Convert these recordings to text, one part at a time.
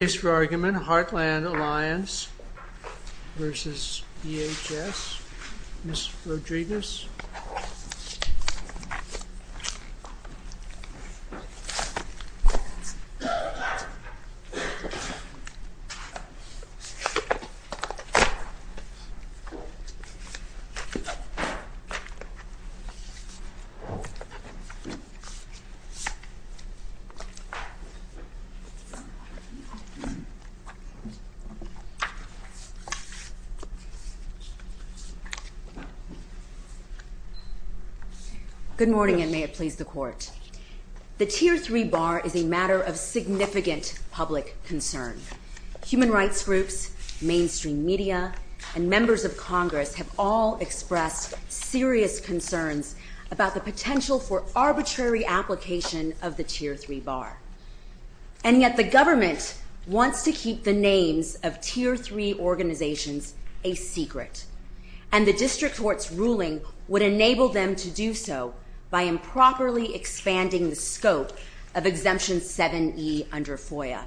Case for argument, Heartland Alliance v. DHS Ms. Rodriguez Good morning, and may it please the Court. The Tier 3 bar is a matter of significant public concern. Human rights groups, mainstream media, and members of Congress have all expressed serious concerns about the potential for arbitrary application of the Tier 3 bar. And yet the government wants to keep the names of Tier 3 organizations a secret, and the District Court's ruling would enable them to do so by improperly expanding the scope of Exemption 7e under FOIA.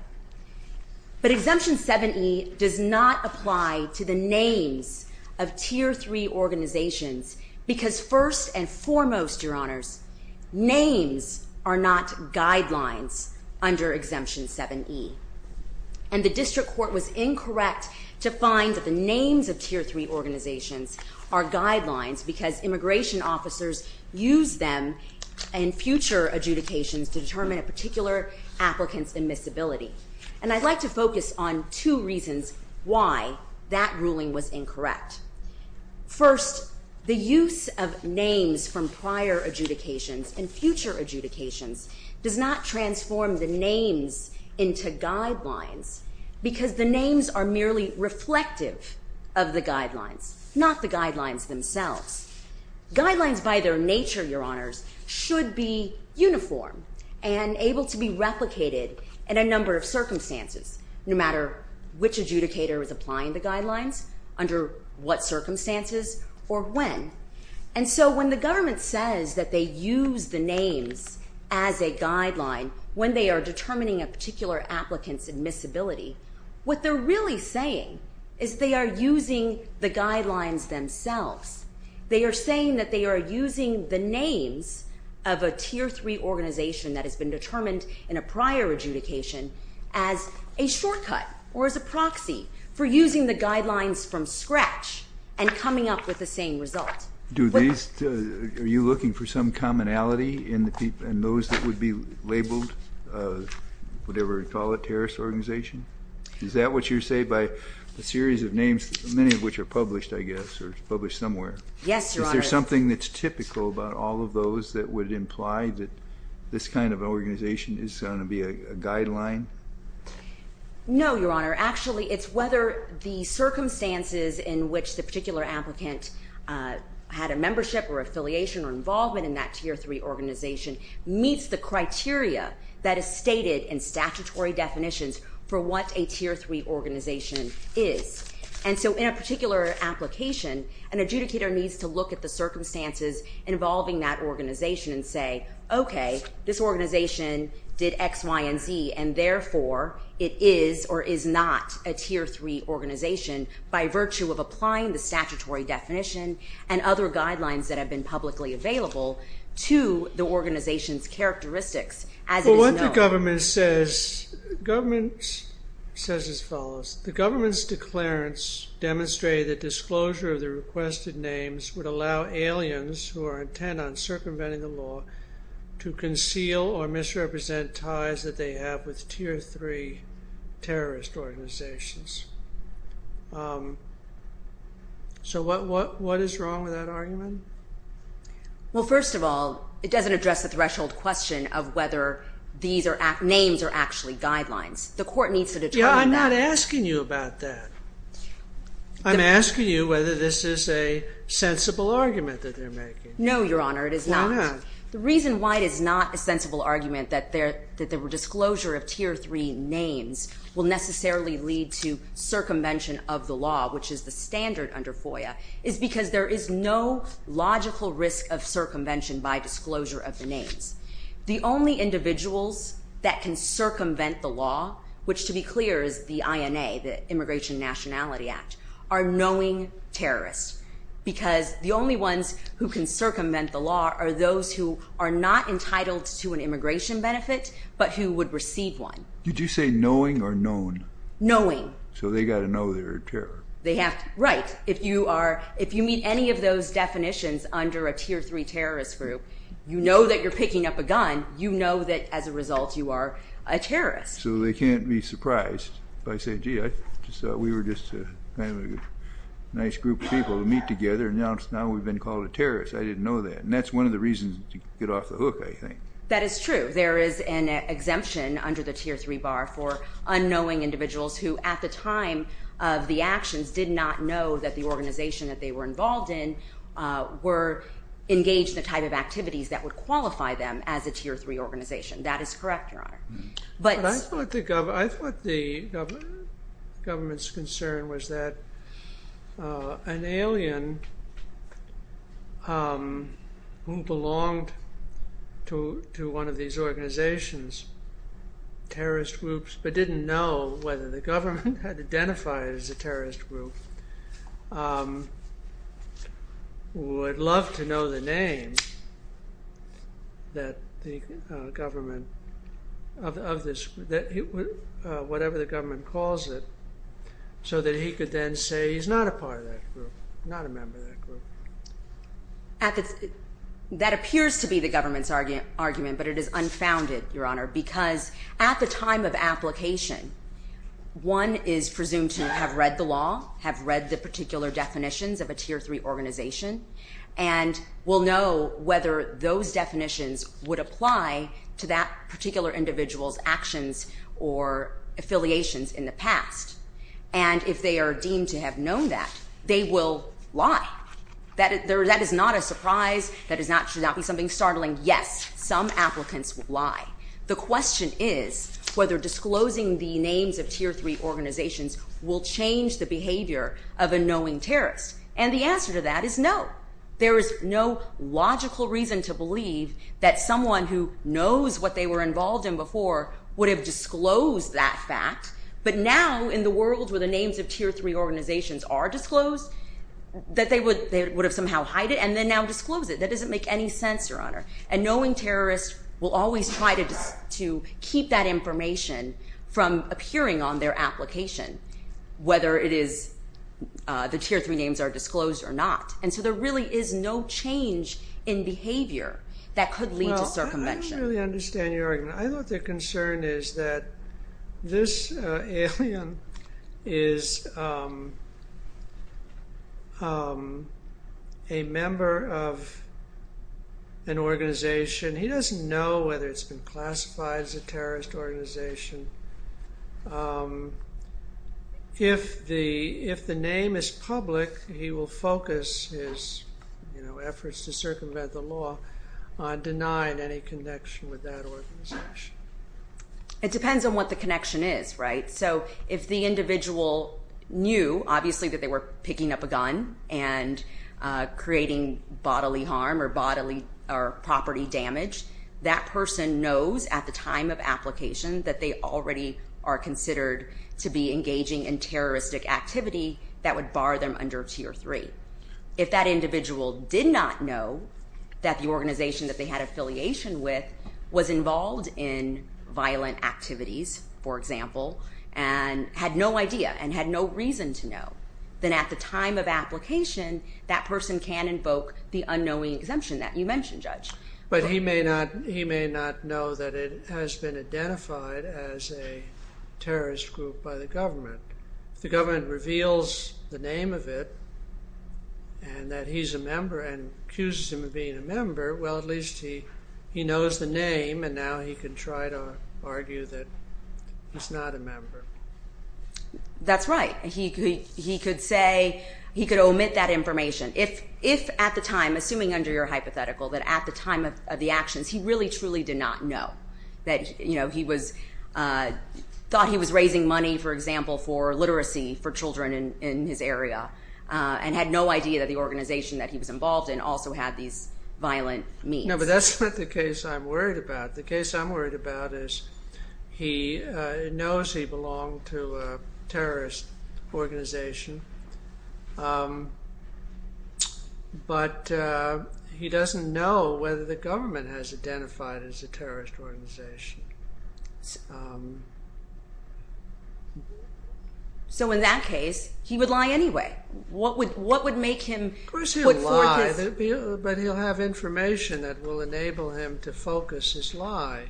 But Exemption 7e does not apply to the names of Tier 3 organizations because, first and foremost, Your Honors, names are not guidelines under Exemption 7e. And the District Court was incorrect to find that the names of Tier 3 organizations are guidelines because immigration officers use them in future adjudications to determine a particular applicant's admissibility. And I'd like to focus on two reasons why that ruling was incorrect. First, the use of names from prior adjudications and future adjudications does not transform the names into guidelines because the names are merely reflective of the guidelines, not the guidelines themselves. Guidelines by their nature, Your Honors, should be uniform and able to be replicated in a number of circumstances, no matter which adjudicator is applying the guidelines, under what circumstances, or when. And so when the government says that they use the names as a guideline when they are determining a particular applicant's admissibility, what they're really saying is they are using the guidelines themselves. They are saying that they are using the names of a Tier 3 organization that has been determined in a prior adjudication as a shortcut or as a proxy for using the guidelines from scratch and coming up with the same result. Are you looking for some commonality in those that would be labeled, whatever you call it, a terrorist organization? Is that what you're saying by a series of names, many of which are published, I guess, or published somewhere? Yes, Your Honor. Is there something that's typical about all of those that would imply that this kind of organization is going to be a guideline? No, Your Honor. Actually, it's whether the circumstances in which the particular applicant had a membership or affiliation or involvement in that Tier 3 organization meets the criteria that is stated in statutory definitions for what a Tier 3 organization is. And so in a particular application, an adjudicator needs to look at the circumstances involving that organization and say, okay, this organization did X, Y, and Z, and therefore it is or is not a Tier 3 organization by virtue of applying the statutory definition and other guidelines that have been publicly available to the organization's characteristics as it is known. The government says as follows, the government's declarants demonstrate that disclosure of the requested names would allow aliens who are intent on circumventing the law to conceal or misrepresent ties that they have with Tier 3 terrorist organizations. So what is wrong with that argument? Well, first of all, it doesn't address the threshold question of whether these names are actually guidelines. The court needs to determine that. Yeah, I'm not asking you about that. I'm asking you whether this is a sensible argument that they're making. Why not? The reason why it is not a sensible argument that the disclosure of Tier 3 names will necessarily lead to circumvention of the law, which is the standard under FOIA, is because there is no logical risk of circumvention by disclosure of the names. The only individuals that can circumvent the law, which to be clear is the INA, the Immigration Nationality Act, are knowing terrorists, because the only ones who can circumvent the law are those who are not entitled to an immigration benefit, but who would receive one. Did you say knowing or known? Knowing. So they've got to know they're a terrorist. Right. If you meet any of those definitions under a Tier 3 terrorist group, you know that you're picking up a gun, you know that as a result you are a terrorist. So they can't be surprised if I say, gee, I just thought we were just a nice group of people to meet together, and now we've been called a terrorist. I didn't know that. And that's one of the reasons to get off the hook, I think. That is true. There is an exemption under the Tier 3 bar for unknowing individuals who at the time of the actions did not know that the organization that they were involved in were engaged in the type of activities that would qualify them as a Tier 3 organization. That is correct, Your Honor. But I thought the government's concern was that an alien who belonged to one of these organizations, terrorist groups, but didn't know whether the government had identified it as a terrorist group, would love to know the name of whatever the government calls it so that he could then say he's not a part of that group, not a member of that group. That appears to be the government's argument, but it is unfounded, Your Honor, because at the time of application, one is presumed to have read the law, have read the particular definitions of a Tier 3 organization, and will know whether those definitions would apply to that particular individual's actions or affiliations in the past. And if they are deemed to have known that, they will lie. That is not a surprise. That should not be something startling. Yes, some applicants would lie. The question is whether disclosing the names of Tier 3 organizations will change the behavior of a knowing terrorist. And the answer to that is no. There is no logical reason to believe that someone who knows what they were involved in before would have disclosed that fact. But now, in the world where the names of Tier 3 organizations are disclosed, that they would have somehow hid it and then now disclosed it. That doesn't make any sense, Your Honor. And knowing terrorists will always try to keep that information from appearing on their application, whether it is the Tier 3 names are disclosed or not. And so there really is no change in behavior that could lead to circumvention. I don't really understand, Your Honor. I think the concern is that this alien is a member of an organization. He doesn't know whether it has been classified as a terrorist organization. If the name is public, he will focus his efforts to circumvent the law on denying any connection with that organization. It depends on what the connection is, right? So if the individual knew, obviously, that they were picking up a gun and creating bodily harm or property damage, that person knows at the time of application that they already are considered to be engaging in terroristic activity that would bar them under Tier 3. If that individual did not know that the organization that they had affiliation with was involved in violent activities, for example, and had no idea and had no reason to know, then at the time of application, that person can invoke the unknowing exemption that you mentioned, Judge. But he may not know that it has been identified as a terrorist group by the government. If the government reveals the name of it and that he's a member and accuses him of being a member, well, at least he knows the name and now he can try to argue that he's not a member. That's right. He could say, he could omit that information. If at the time, assuming under your hypothetical, that at the time of the actions, he really truly did not know, that he thought he was raising money, for example, for literacy for children in his area and had no idea that the organization that he was involved in also had these violent means. No, but that's not the case I'm worried about. The case I'm worried about is he knows he belonged to a terrorist organization, but he doesn't know whether the government has identified it as a terrorist organization. So in that case, he would lie anyway. What would make him put forth his... Of course he would lie, but he'll have information that will enable him to focus his lie.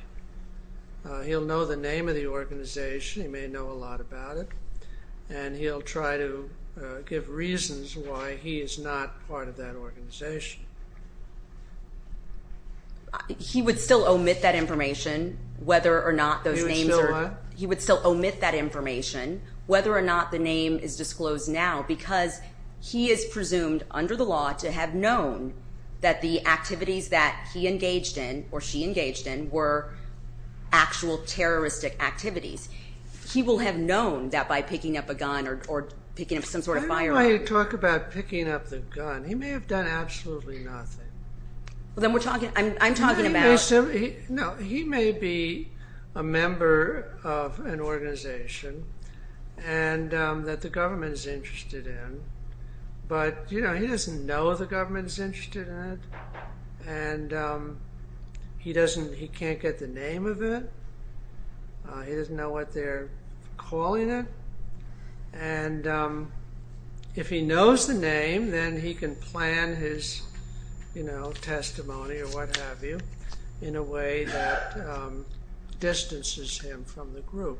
He'll know the name of the organization, he may know a lot about it and he'll try to give reasons why he is not part of that organization. He would still omit that information whether or not those names are... He would still what? He would still omit that information whether or not the name is disclosed now because he is presumed under the law to have known that the activities that he engaged in or she engaged in were actual terroristic activities. He will have known that by picking up a gun or picking up some sort of firearm. I don't know why you talk about picking up the gun. He may have done absolutely nothing. Then we're talking... I'm talking about... No, he may be a member of an organization that the government is interested in, but he doesn't know the government is interested in it and he can't get the name of it. He doesn't know what they're calling it and if he knows the name then he can plan his testimony or what have you in a way that distances him from the group.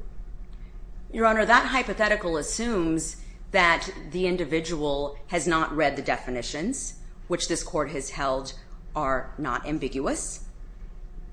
Your Honor, that hypothetical assumes that the individual has not read the definitions which this court has held are not ambiguous.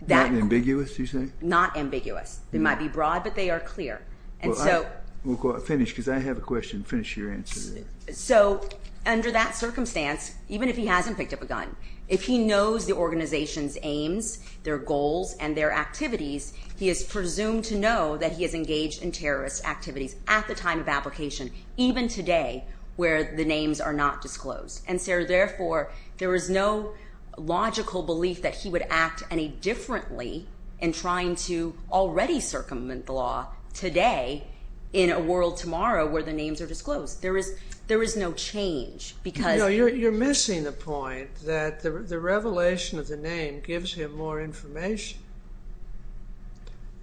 Not ambiguous, you say? Not ambiguous. They might be broad but they are clear. We'll finish because I have a question. Finish your answer there. Under that circumstance, even if he hasn't picked up a gun, if he knows the organization's aims, their goals, and their activities, he is presumed to know that he has engaged in terrorist activities at the time of application even today where the names are not disclosed. Therefore, there is no logical belief that he would act any differently in trying to already circumvent the law today in a world tomorrow where the names are disclosed. There is no change because... You're missing the point that the revelation of the name gives him more information.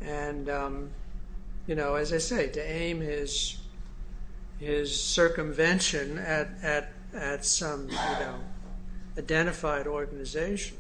And as I say, to aim his circumvention at some identified organization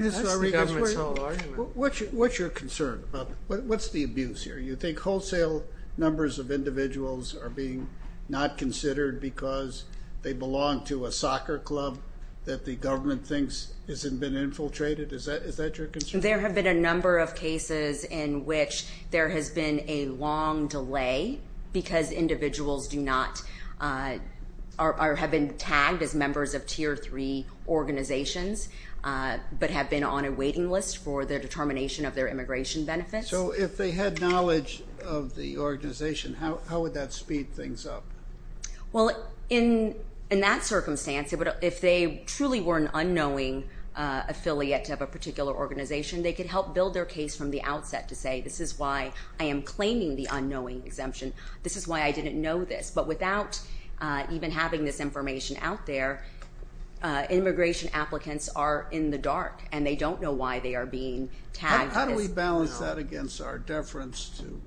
That's the government's whole argument. What's your concern? What's the abuse here? You think wholesale numbers of individuals are being not considered because they belong to a soccer club that the government thinks has been infiltrated? Is that your concern? There have been a number of cases in which there has been a long delay because individuals have been tagged as members of Tier 3 organizations but have been on a waiting list for the determination of their immigration benefits. So if they had knowledge of the organization, how would that speed things up? Well, in that circumstance, if they truly were an unknowing affiliate of a particular organization, they could help build their case from the outset to say, this is why I am claiming the unknowing exemption. This is why I didn't know this. But without even having this information out there, immigration applicants are in the dark, and they don't know why they are being tagged. How do we balance that against our deference to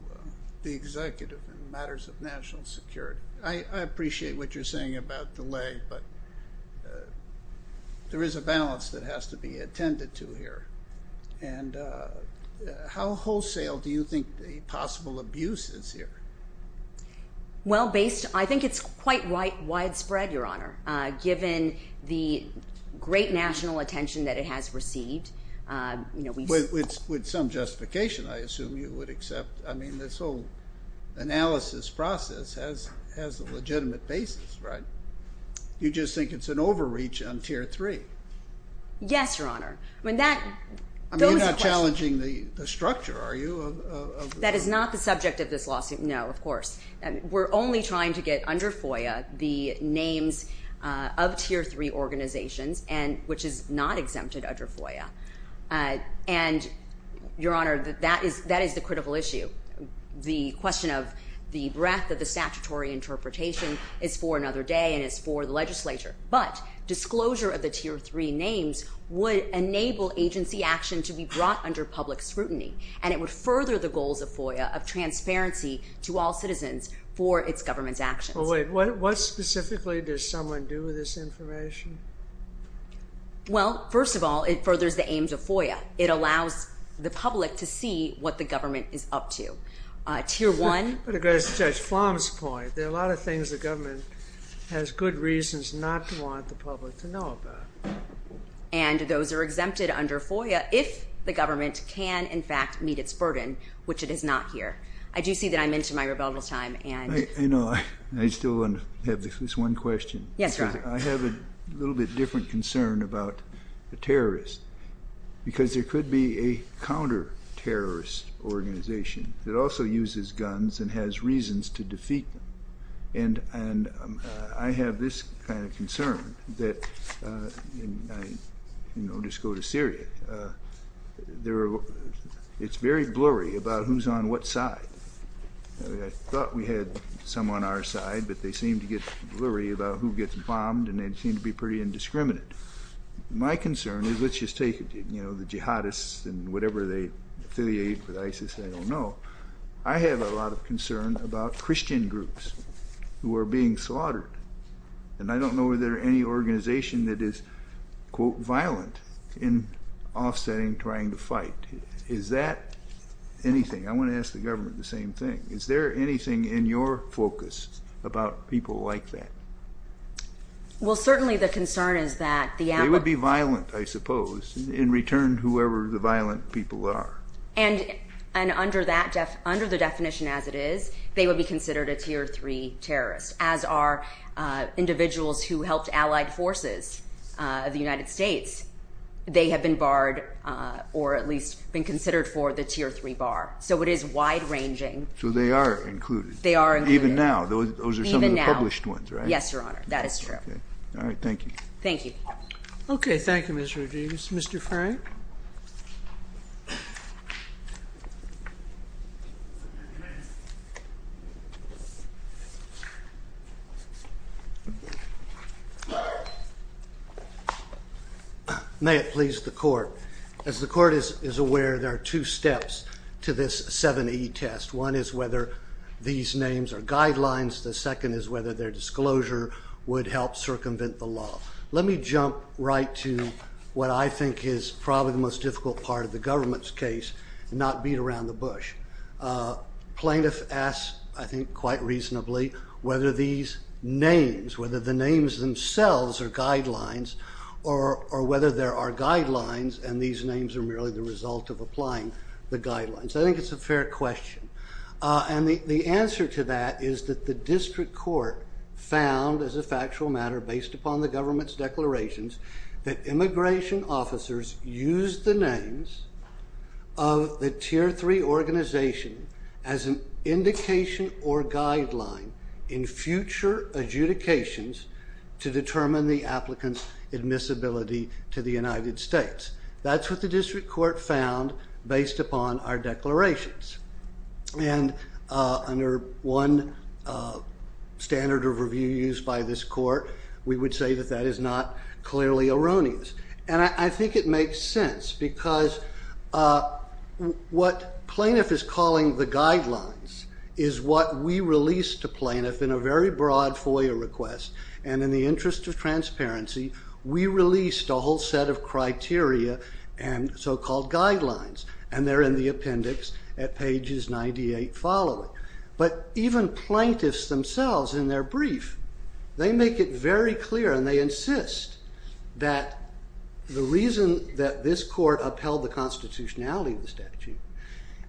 the executive in matters of national security? I appreciate what you're saying about delay, but there is a balance that has to be attended to here. And how wholesale do you think the possible abuse is here? Well, I think it's quite widespread, Your Honor, given the great national attention that it has received. With some justification, I assume you would accept. I mean, this whole analysis process has a legitimate basis, right? You just think it's an overreach on Tier 3. Yes, Your Honor. I mean, you're not challenging the structure, are you? That is not the subject of this lawsuit, no, of course. We're only trying to get under FOIA the names of Tier 3 organizations, which is not exempted under FOIA. And, Your Honor, that is the critical issue. The question of the breadth of the statutory interpretation is for another day, and it's for the legislature. But disclosure of the Tier 3 names would enable agency action to be brought under public scrutiny, and it would further the goals of FOIA of transparency to all citizens for its government's actions. Well, wait. What specifically does someone do with this information? Well, first of all, it furthers the aims of FOIA. It allows the public to see what the government is up to. Tier 1. To address Judge Flom's point, there are a lot of things the government has good reasons not to want the public to know about. And those are exempted under FOIA if the government can, in fact, meet its burden, which it is not here. I do see that I'm into my rebuttal time. I know. I still have this one question. Yes, Your Honor. I have a little bit different concern about the terrorists because there could be a counter-terrorist organization that also uses guns and has reasons to defeat them. And I have this kind of concern that, you know, just go to Syria. It's very blurry about who's on what side. I thought we had some on our side, but they seem to get blurry about who gets bombed, and they seem to be pretty indiscriminate. My concern is, let's just take, you know, the jihadists and whatever they affiliate with ISIS. I don't know. I have a lot of concern about Christian groups who are being slaughtered, and I don't know if there are any organizations that is, quote, violent in offsetting trying to fight. Is that anything? I want to ask the government the same thing. Is there anything in your focus about people like that? Well, certainly the concern is that the al- They would be violent, I suppose, in return whoever the violent people are. And under the definition as it is, they would be considered a Tier 3 terrorist, as are individuals who helped allied forces of the United States. They have been barred or at least been considered for the Tier 3 bar. So it is wide-ranging. So they are included. They are included. Even now. Even now. Yes, Your Honor. That is true. All right. Thank you. Thank you. Okay. Thank you, Ms. Rodriguez. Mr. Frank? May it please the Court. As the Court is aware, there are two steps to this 7E test. One is whether these names are guidelines. The second is whether their disclosure would help circumvent the law. Let me jump right to what I think is probably the most difficult part of the government's case and not beat around the bush. Plaintiff asks, I think quite reasonably, whether these names, whether the names themselves are guidelines or whether there are guidelines and these names are merely the result of applying the guidelines. I think it's a fair question. And the answer to that is that the district court found, as a factual matter based upon the government's declarations, that immigration officers used the names of the Tier 3 organization as an indication or guideline in future adjudications to determine the applicant's admissibility to the United States. That's what the district court found based upon our declarations. And under one standard of review used by this court, we would say that that is not clearly erroneous. And I think it makes sense because what plaintiff is calling the guidelines is what we released to plaintiff in a very broad FOIA request. And in the interest of transparency, we released a whole set of criteria and so-called guidelines, and they're in the appendix at pages 98 following. But even plaintiffs themselves in their brief, they make it very clear and they insist that the reason that this court upheld the constitutionality of the statute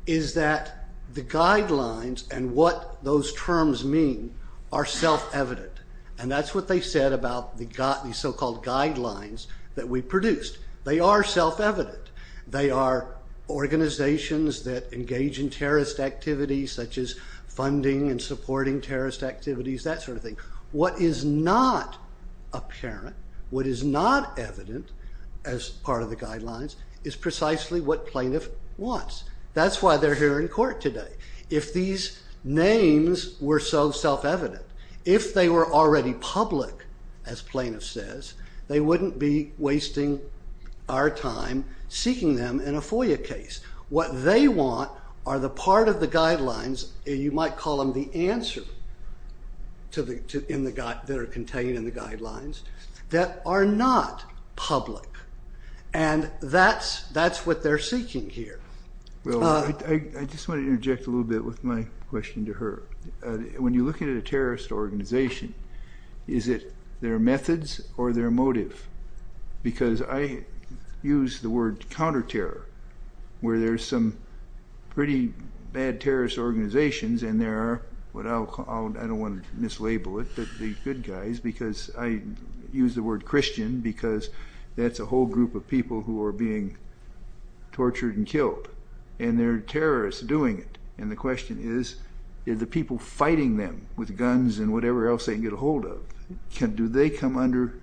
is that the guidelines and what those terms mean are self-evident. And that's what they said about the so-called guidelines that we produced. They are self-evident. They are organizations that engage in terrorist activities such as funding and supporting terrorist activities, that sort of thing. What is not apparent, what is not evident as part of the guidelines, is precisely what plaintiff wants. That's why they're here in court today. If these names were so self-evident, if they were already public, as plaintiff says, they wouldn't be wasting our time seeking them in a FOIA case. What they want are the part of the guidelines, you might call them the answer that are contained in the guidelines, that are not public. And that's what they're seeking here. Well, I just want to interject a little bit with my question to her. When you look at a terrorist organization, is it their methods or their motive? Because I use the word counter-terror, where there's some pretty bad terrorist organizations, and there are, I don't want to mislabel it, the good guys, because I use the word Christian, because that's a whole group of people who are being tortured and killed. And there are terrorists doing it. And the question is, are the people fighting them with guns and whatever else they can get a hold of, do they come under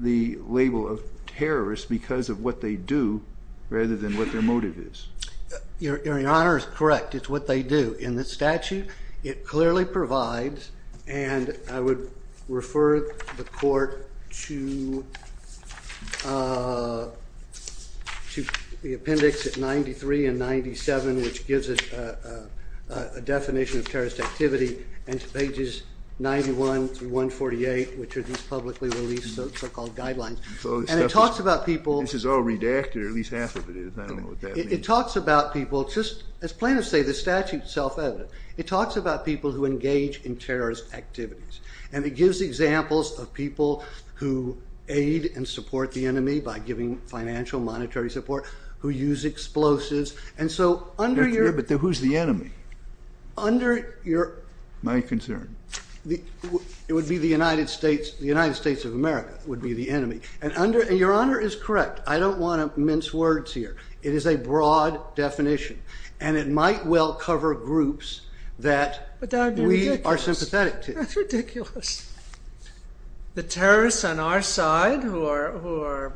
the label of terrorists because of what they do rather than what their motive is? Your Honor is correct. It's what they do. In the statute, it clearly provides, and I would refer the court to the appendix at 93 and 97, which gives it a definition of terrorist activity, and to pages 91 through 148, which are these publicly released so-called guidelines. And it talks about people. This is all redacted, or at least half of it is. I don't know what that means. It talks about people. As plaintiffs say, the statute is self-evident. It talks about people who engage in terrorist activities. And it gives examples of people who aid and support the enemy by giving financial, monetary support, who use explosives. But who's the enemy? My concern. It would be the United States of America would be the enemy. And Your Honor is correct. I don't want to mince words here. It is a broad definition, and it might well cover groups that we are sympathetic to. But that would be ridiculous. That's ridiculous. The terrorists on our side who are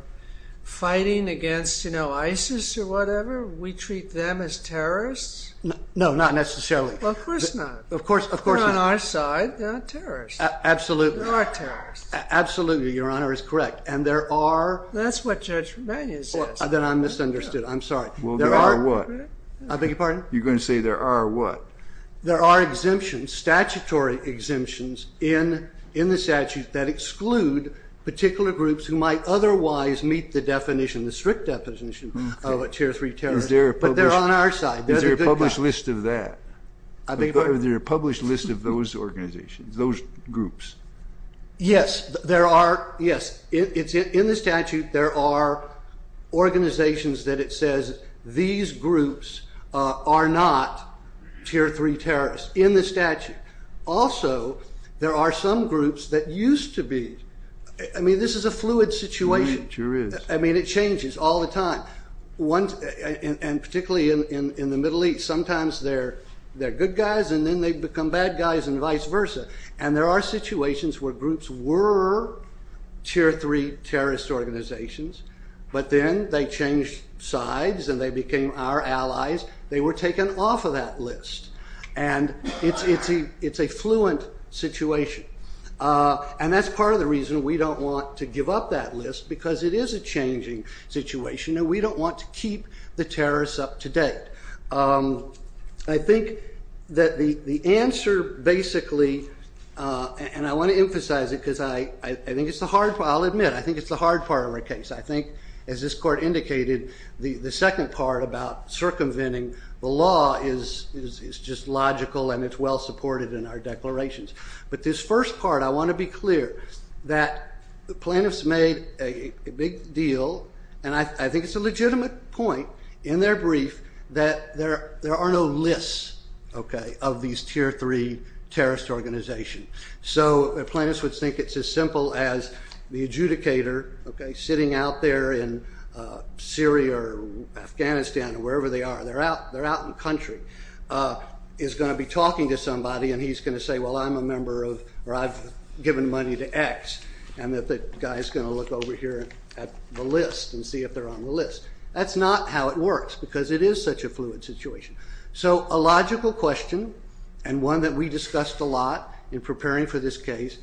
fighting against ISIS or whatever, we treat them as terrorists? No, not necessarily. Well, of course not. Of course not. They're on our side. They're not terrorists. Absolutely. They are terrorists. Absolutely, Your Honor is correct. And there are. That's what Judge McManus says. Then I misunderstood. I'm sorry. Well, there are what? I beg your pardon? You're going to say there are what? There are exemptions, statutory exemptions, in the statute that exclude particular groups who might otherwise meet the definition, the strict definition of a tier 3 terrorist. But they're on our side. Is there a published list of that? Is there a published list of those organizations, those groups? Yes. There are. Yes. It's in the statute. There are organizations that it says these groups are not tier 3 terrorists, in the statute. Also, there are some groups that used to be. I mean, this is a fluid situation. It sure is. I mean, it changes all the time. And particularly in the Middle East, sometimes they're good guys and then they become bad guys and vice versa. And there are situations where groups were tier 3 terrorist organizations, but then they changed sides and they became our allies. They were taken off of that list. And it's a fluent situation. And that's part of the reason we don't want to give up that list because it is a changing situation and we don't want to keep the terrorists up to date. I think that the answer basically, and I want to emphasize it because I think it's the hard part. I'll admit, I think it's the hard part of our case. I think, as this court indicated, the second part about circumventing the law is just logical and it's well supported in our declarations. But this first part, I want to be clear, that the plaintiffs made a big deal, and I think it's a legitimate point in their brief, that there are no lists of these tier 3 terrorist organizations. So the plaintiffs would think it's as simple as the adjudicator sitting out there in Syria or Afghanistan or wherever they are, they're out in the country, is going to be talking to somebody and he's going to say, well, I'm a member of, or I've given money to X, and that the guy's going to look over here at the list and see if they're on the list. That's not how it works because it is such a fluid situation. So a logical question and one that we discussed a lot in preparing for this case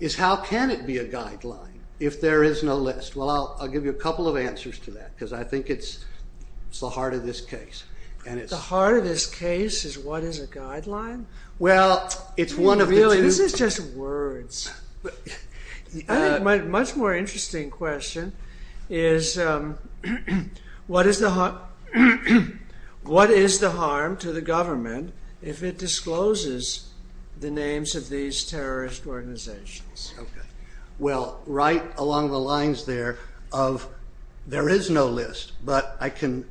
is how can it be a guideline if there is no list? Well, I'll give you a couple of answers to that because I think it's the heart of this case. The heart of this case is what is a guideline? Well, it's one of the two. This is just words. My much more interesting question is what is the harm to the government if it discloses the names of these terrorist organizations? Well, right along the lines there of there is no list, but I can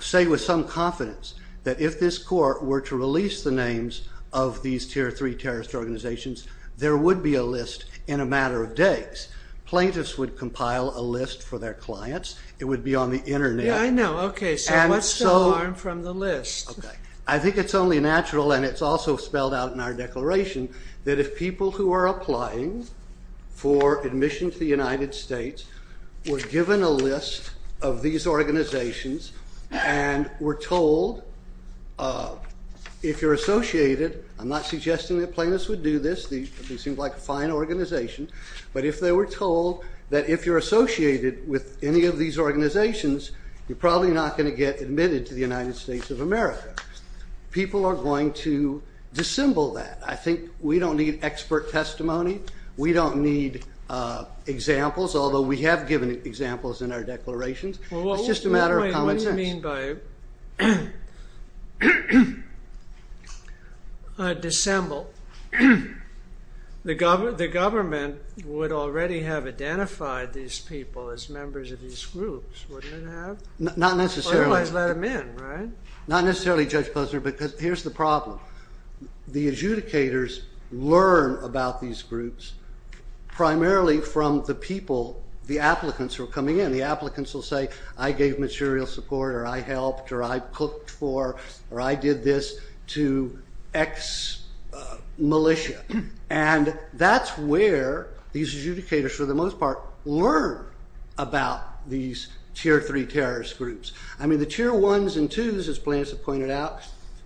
say with some confidence that if this court were to release the names of these Tier 3 terrorist organizations, there would be a list in a matter of days. Plaintiffs would compile a list for their clients. It would be on the Internet. Yeah, I know. Okay, so what's the harm from the list? I think it's only natural, and it's also spelled out in our declaration, that if people who are applying for admission to the United States were given a list of these organizations and were told, if you're associated... I'm not suggesting that plaintiffs would do this. This seems like a fine organization. But if they were told that if you're associated with any of these organizations, you're probably not going to get admitted to the United States of America. People are going to dissemble that. I think we don't need expert testimony. We don't need examples, although we have given examples in our declarations. It's just a matter of common sense. What do you mean by dissemble? The government would already have identified these people as members of these groups, wouldn't it have? Not necessarily. Otherwise, let them in, right? Not necessarily, Judge Posner, because here's the problem. The adjudicators learn about these groups primarily from the people, the applicants who are coming in. The applicants will say, I gave material support, or I helped, or I cooked for, or I did this to X militia. And that's where these adjudicators, for the most part, learn about these Tier 3 terrorist groups. I mean, the Tier 1s and 2s, as plaintiffs have pointed out,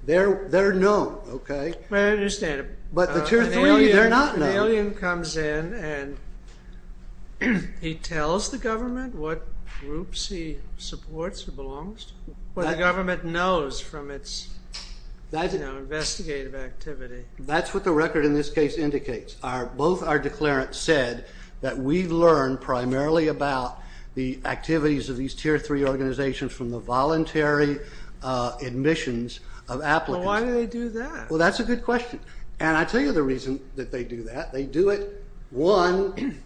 they're known, okay? I understand. But the Tier 3, they're not known. So the alien comes in and he tells the government what groups he supports or belongs to, what the government knows from its investigative activity. That's what the record in this case indicates. Both our declarants said that we learn primarily about the activities of these Tier 3 organizations from the voluntary admissions of applicants. Well, why do they do that? Well, that's a good question. And I tell you the reason that they do that. They do it, one,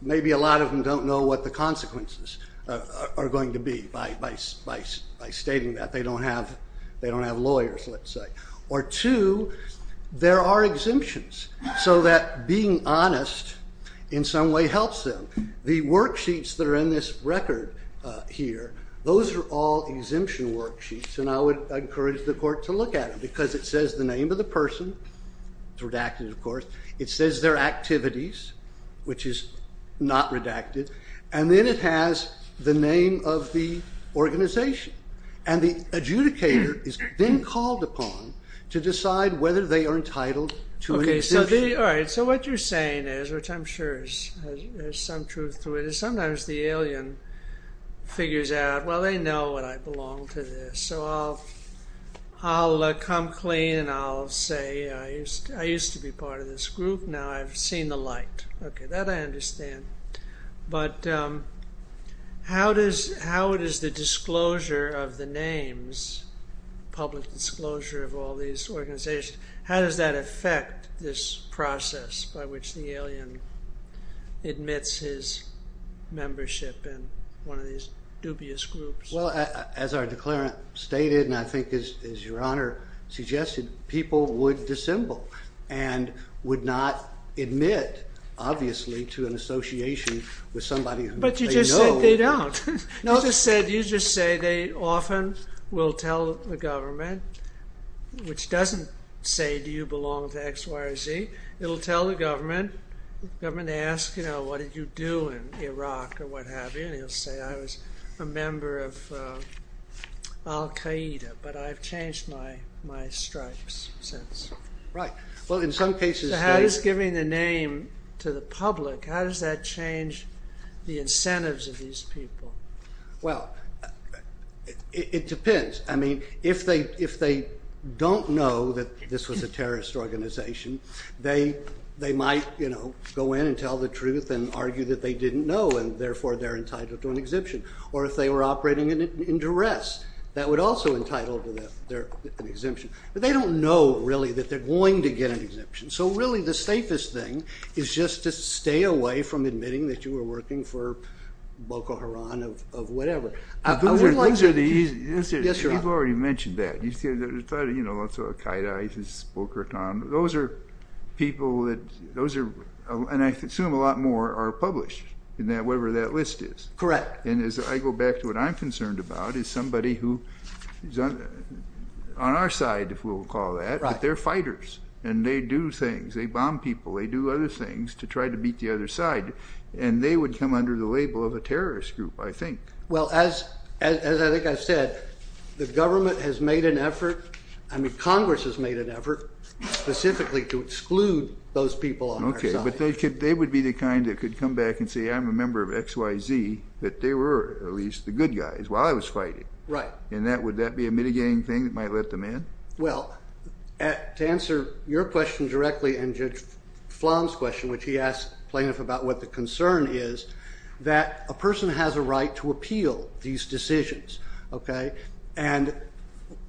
maybe a lot of them don't know what the consequences are going to be by stating that. They don't have lawyers, let's say. Or, two, there are exemptions, so that being honest in some way helps them. The worksheets that are in this record here, those are all exemption worksheets, and I would encourage the court to look at them because it says the name of the person. It's redacted, of course. It says their activities, which is not redacted. And then it has the name of the organization. And the adjudicator is then called upon to decide whether they are entitled to an exemption. Okay, so what you're saying is, which I'm sure there's some truth to it, is sometimes the alien figures out, well, they know what I belong to this, so I'll come clean and I'll say I used to be part of this group. Now I've seen the light. Okay, that I understand. But how does the disclosure of the names, public disclosure of all these organizations, how does that affect this process by which the alien admits his membership in one of these dubious groups? Well, as our declarant stated, and I think as Your Honor suggested, people would dissemble and would not admit, obviously, to an association with somebody who they know. But you just said they don't. You just said they often will tell the government, which doesn't say do you belong to X, Y, or Z. It will tell the government. The government asks, you know, what did you do in Iraq or what have you, and you'll say I was a member of Al-Qaeda, but I've changed my stripes since. Right. Well, in some cases they're- So how does giving the name to the public, how does that change the incentives of these people? Well, it depends. I mean, if they don't know that this was a terrorist organization, they might, you know, go in and tell the truth and argue that they didn't know and, therefore, they're entitled to an exemption. Or if they were operating in duress, that would also entitle them to an exemption. But they don't know, really, that they're going to get an exemption. So, really, the safest thing is just to stay away from admitting that you were working for Boko Haram or whatever. Those are the easy- Yes, Your Honor. You've already mentioned that. You said there's lots of Al-Qaeda, ISIS, Boko Haram. Those are people that-and I assume a lot more are published in whatever that list is. Correct. And as I go back to what I'm concerned about is somebody who is on our side, if we'll call it that, but they're fighters, and they do things. They bomb people. They do other things to try to beat the other side, and they would come under the label of a terrorist group, I think. Well, as I think I said, the government has made an effort, I mean Congress has made an effort specifically to exclude those people on our side. Okay. But they would be the kind that could come back and say, I'm a member of XYZ, that they were at least the good guys while I was fighting. Right. And would that be a mitigating thing that might let them in? Well, to answer your question directly and Judge Flan's question, which he asked plaintiff about what the concern is, that a person has a right to appeal these decisions. Okay. And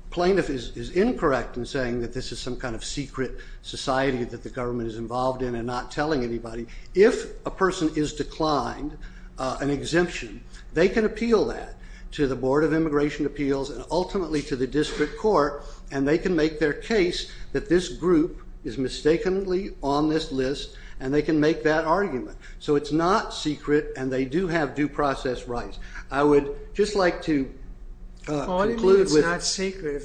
plaintiff is incorrect in saying that this is some kind of secret society that the government is involved in and not telling anybody. If a person is declined an exemption, they can appeal that to the Board of Immigration Appeals and ultimately to the district court, and they can make their case that this group is mistakenly on this list, and they can make that argument. So it's not secret, and they do have due process rights. I would just like to conclude with... If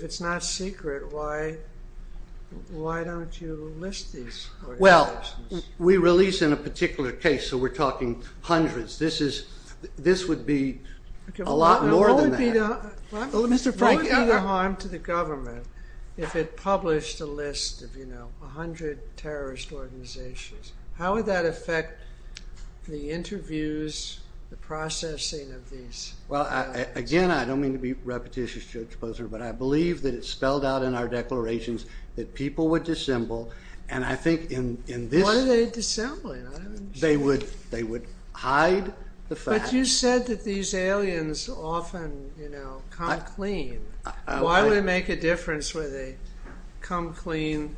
it's not secret, why don't you list these organizations? Well, we release in a particular case, so we're talking hundreds. This would be a lot more than that. What would be the harm to the government if it published a list of, you know, 100 terrorist organizations? How would that affect the interviews, the processing of these? Well, again, I don't mean to be repetitious, Judge Posner, but I believe that it's spelled out in our declarations that people would dissemble, and I think in this... What are they dissembling? They would hide the facts. But you said that these aliens often, you know, come clean. Why would it make a difference whether they come clean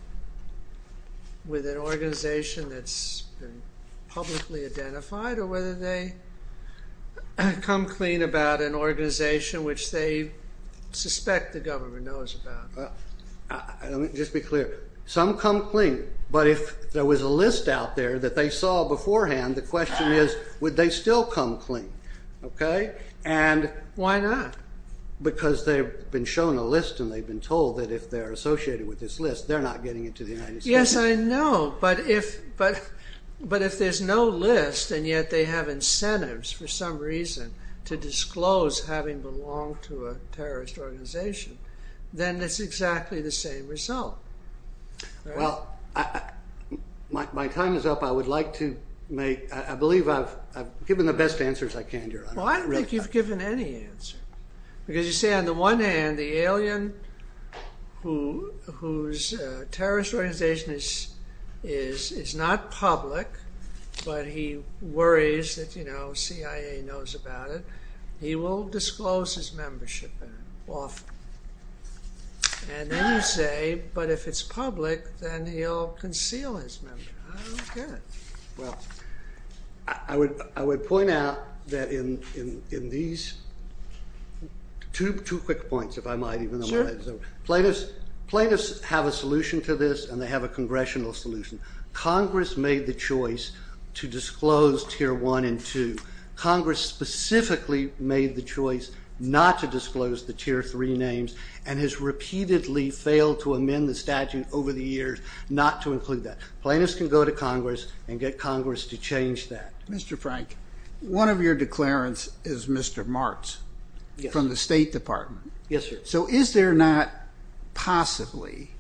with an organization that's been publicly identified or whether they come clean about an organization which they suspect the government knows about? Let me just be clear. Some come clean, but if there was a list out there that they saw beforehand, the question is would they still come clean, okay? Why not? Because they've been shown a list and they've been told that if they're associated with this list, they're not getting into the United States. Yes, I know, but if there's no list and yet they have incentives for some reason to disclose having belonged to a terrorist organization, then it's exactly the same result. Well, my time is up. I would like to make... I believe I've given the best answers I can here. Well, I don't think you've given any answer. Because you say on the one hand, the alien whose terrorist organization is not public, but he worries that, you know, CIA knows about it, he will disclose his membership in it often. And then you say, but if it's public, then he'll conceal his membership. I don't get it. Well, I would point out that in these... Two quick points, if I might. Sure. Plaintiffs have a solution to this and they have a congressional solution. Congress made the choice to disclose Tier 1 and 2. Congress specifically made the choice not to disclose the Tier 3 names and has repeatedly failed to amend the statute over the years not to include that. Plaintiffs can go to Congress and get Congress to change that. Mr. Frank, one of your declarants is Mr. Martz from the State Department. Yes, sir. So is there not possibly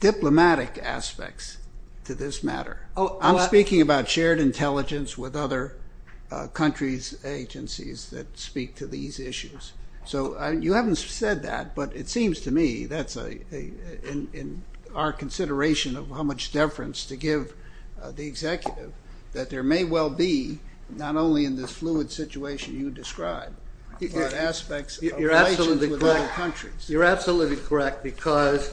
diplomatic aspects to this matter? I'm speaking about shared intelligence with other countries' agencies that speak to these issues. So you haven't said that, but it seems to me that's in our consideration of how much deference to give the executive that there may well be, not only in this fluid situation you describe, but aspects of relations with other countries. You're absolutely correct because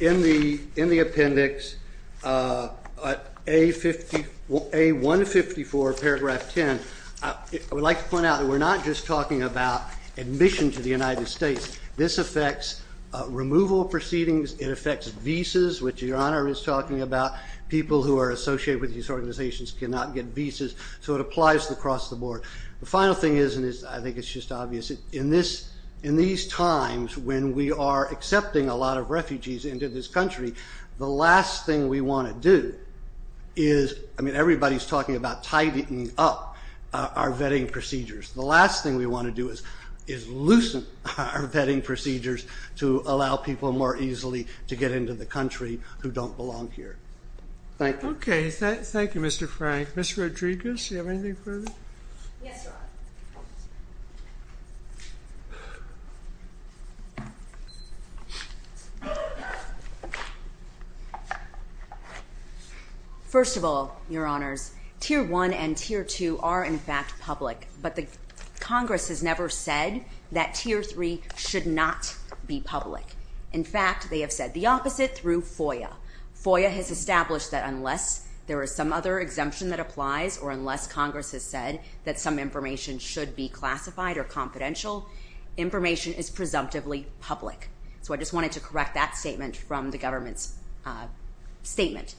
in the appendix, A154, paragraph 10, I would like to point out that we're not just talking about admission to the United States. This affects removal proceedings. It affects visas, which Your Honor is talking about. People who are associated with these organizations cannot get visas, so it applies across the board. The final thing is, and I think it's just obvious, in these times when we are accepting a lot of refugees into this country, the last thing we want to do is, I mean, everybody's talking about tidying up our vetting procedures. The last thing we want to do is loosen our vetting procedures to allow people more easily to get into the country who don't belong here. Thank you. Okay, thank you, Mr. Frank. Ms. Rodriguez, do you have anything further? Yes, Your Honor. First of all, Your Honors, Tier 1 and Tier 2 are in fact public, but Congress has never said that Tier 3 should not be public. In fact, they have said the opposite through FOIA. FOIA has established that unless there is some other exemption that applies or unless Congress has said that some information should be classified or confidential, information is presumptively public. So I just wanted to correct that statement from the government's statement.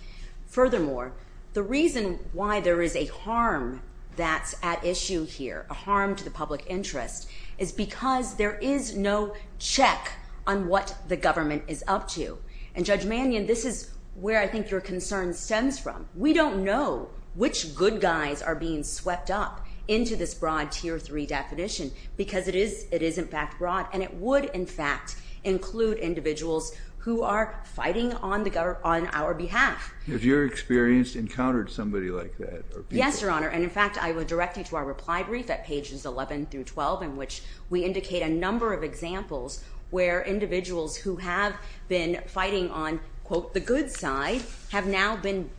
Furthermore, the reason why there is a harm that's at issue here, a harm to the public interest, is because there is no check on what the government is up to. And Judge Mannion, this is where I think your concern stems from. We don't know which good guys are being swept up into this broad Tier 3 definition because it is in fact broad, and it would in fact include individuals who are fighting on our behalf. Have your experience encountered somebody like that? Yes, Your Honor. And in fact, I will direct you to our reply brief at pages 11 through 12 in which we indicate a number of examples where individuals who have been fighting on, quote, the good side, have now been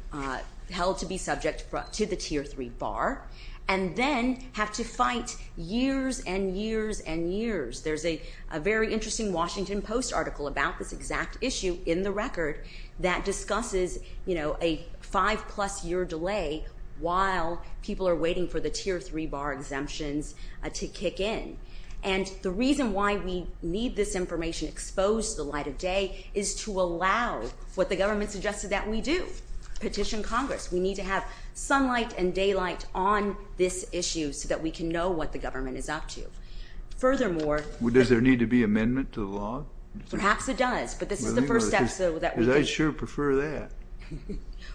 held to be subject to the Tier 3 bar and then have to fight years and years and years. There's a very interesting Washington Post article about this exact issue in the record that discusses a five-plus-year delay while people are waiting for the Tier 3 bar exemptions to kick in. And the reason why we need this information exposed to the light of day is to allow what the government suggested that we do, petition Congress. We need to have sunlight and daylight on this issue so that we can know what the government is up to. Furthermore... Does there need to be amendment to the law? Perhaps it does, but this is the first step so that we can... Because I'd sure prefer that.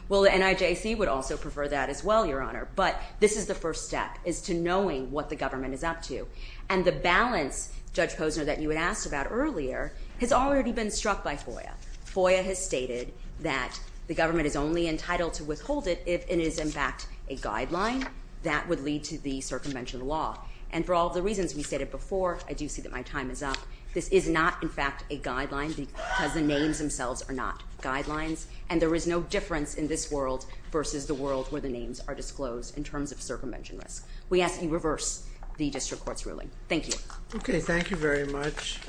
Well, the NIJC would also prefer that as well, Your Honor, but this is the first step is to knowing what the government is up to. And the balance, Judge Posner, that you had asked about earlier has already been struck by FOIA. FOIA has stated that the government is only entitled to withhold it if it is in fact a guideline that would lead to the circumvention of the law. And for all the reasons we stated before, I do see that my time is up. This is not, in fact, a guideline because the names themselves are not guidelines, and there is no difference in this world versus the world where the names are disclosed in terms of circumvention risk. We ask that you reverse the district court's ruling. Thank you. Okay, thank you very much.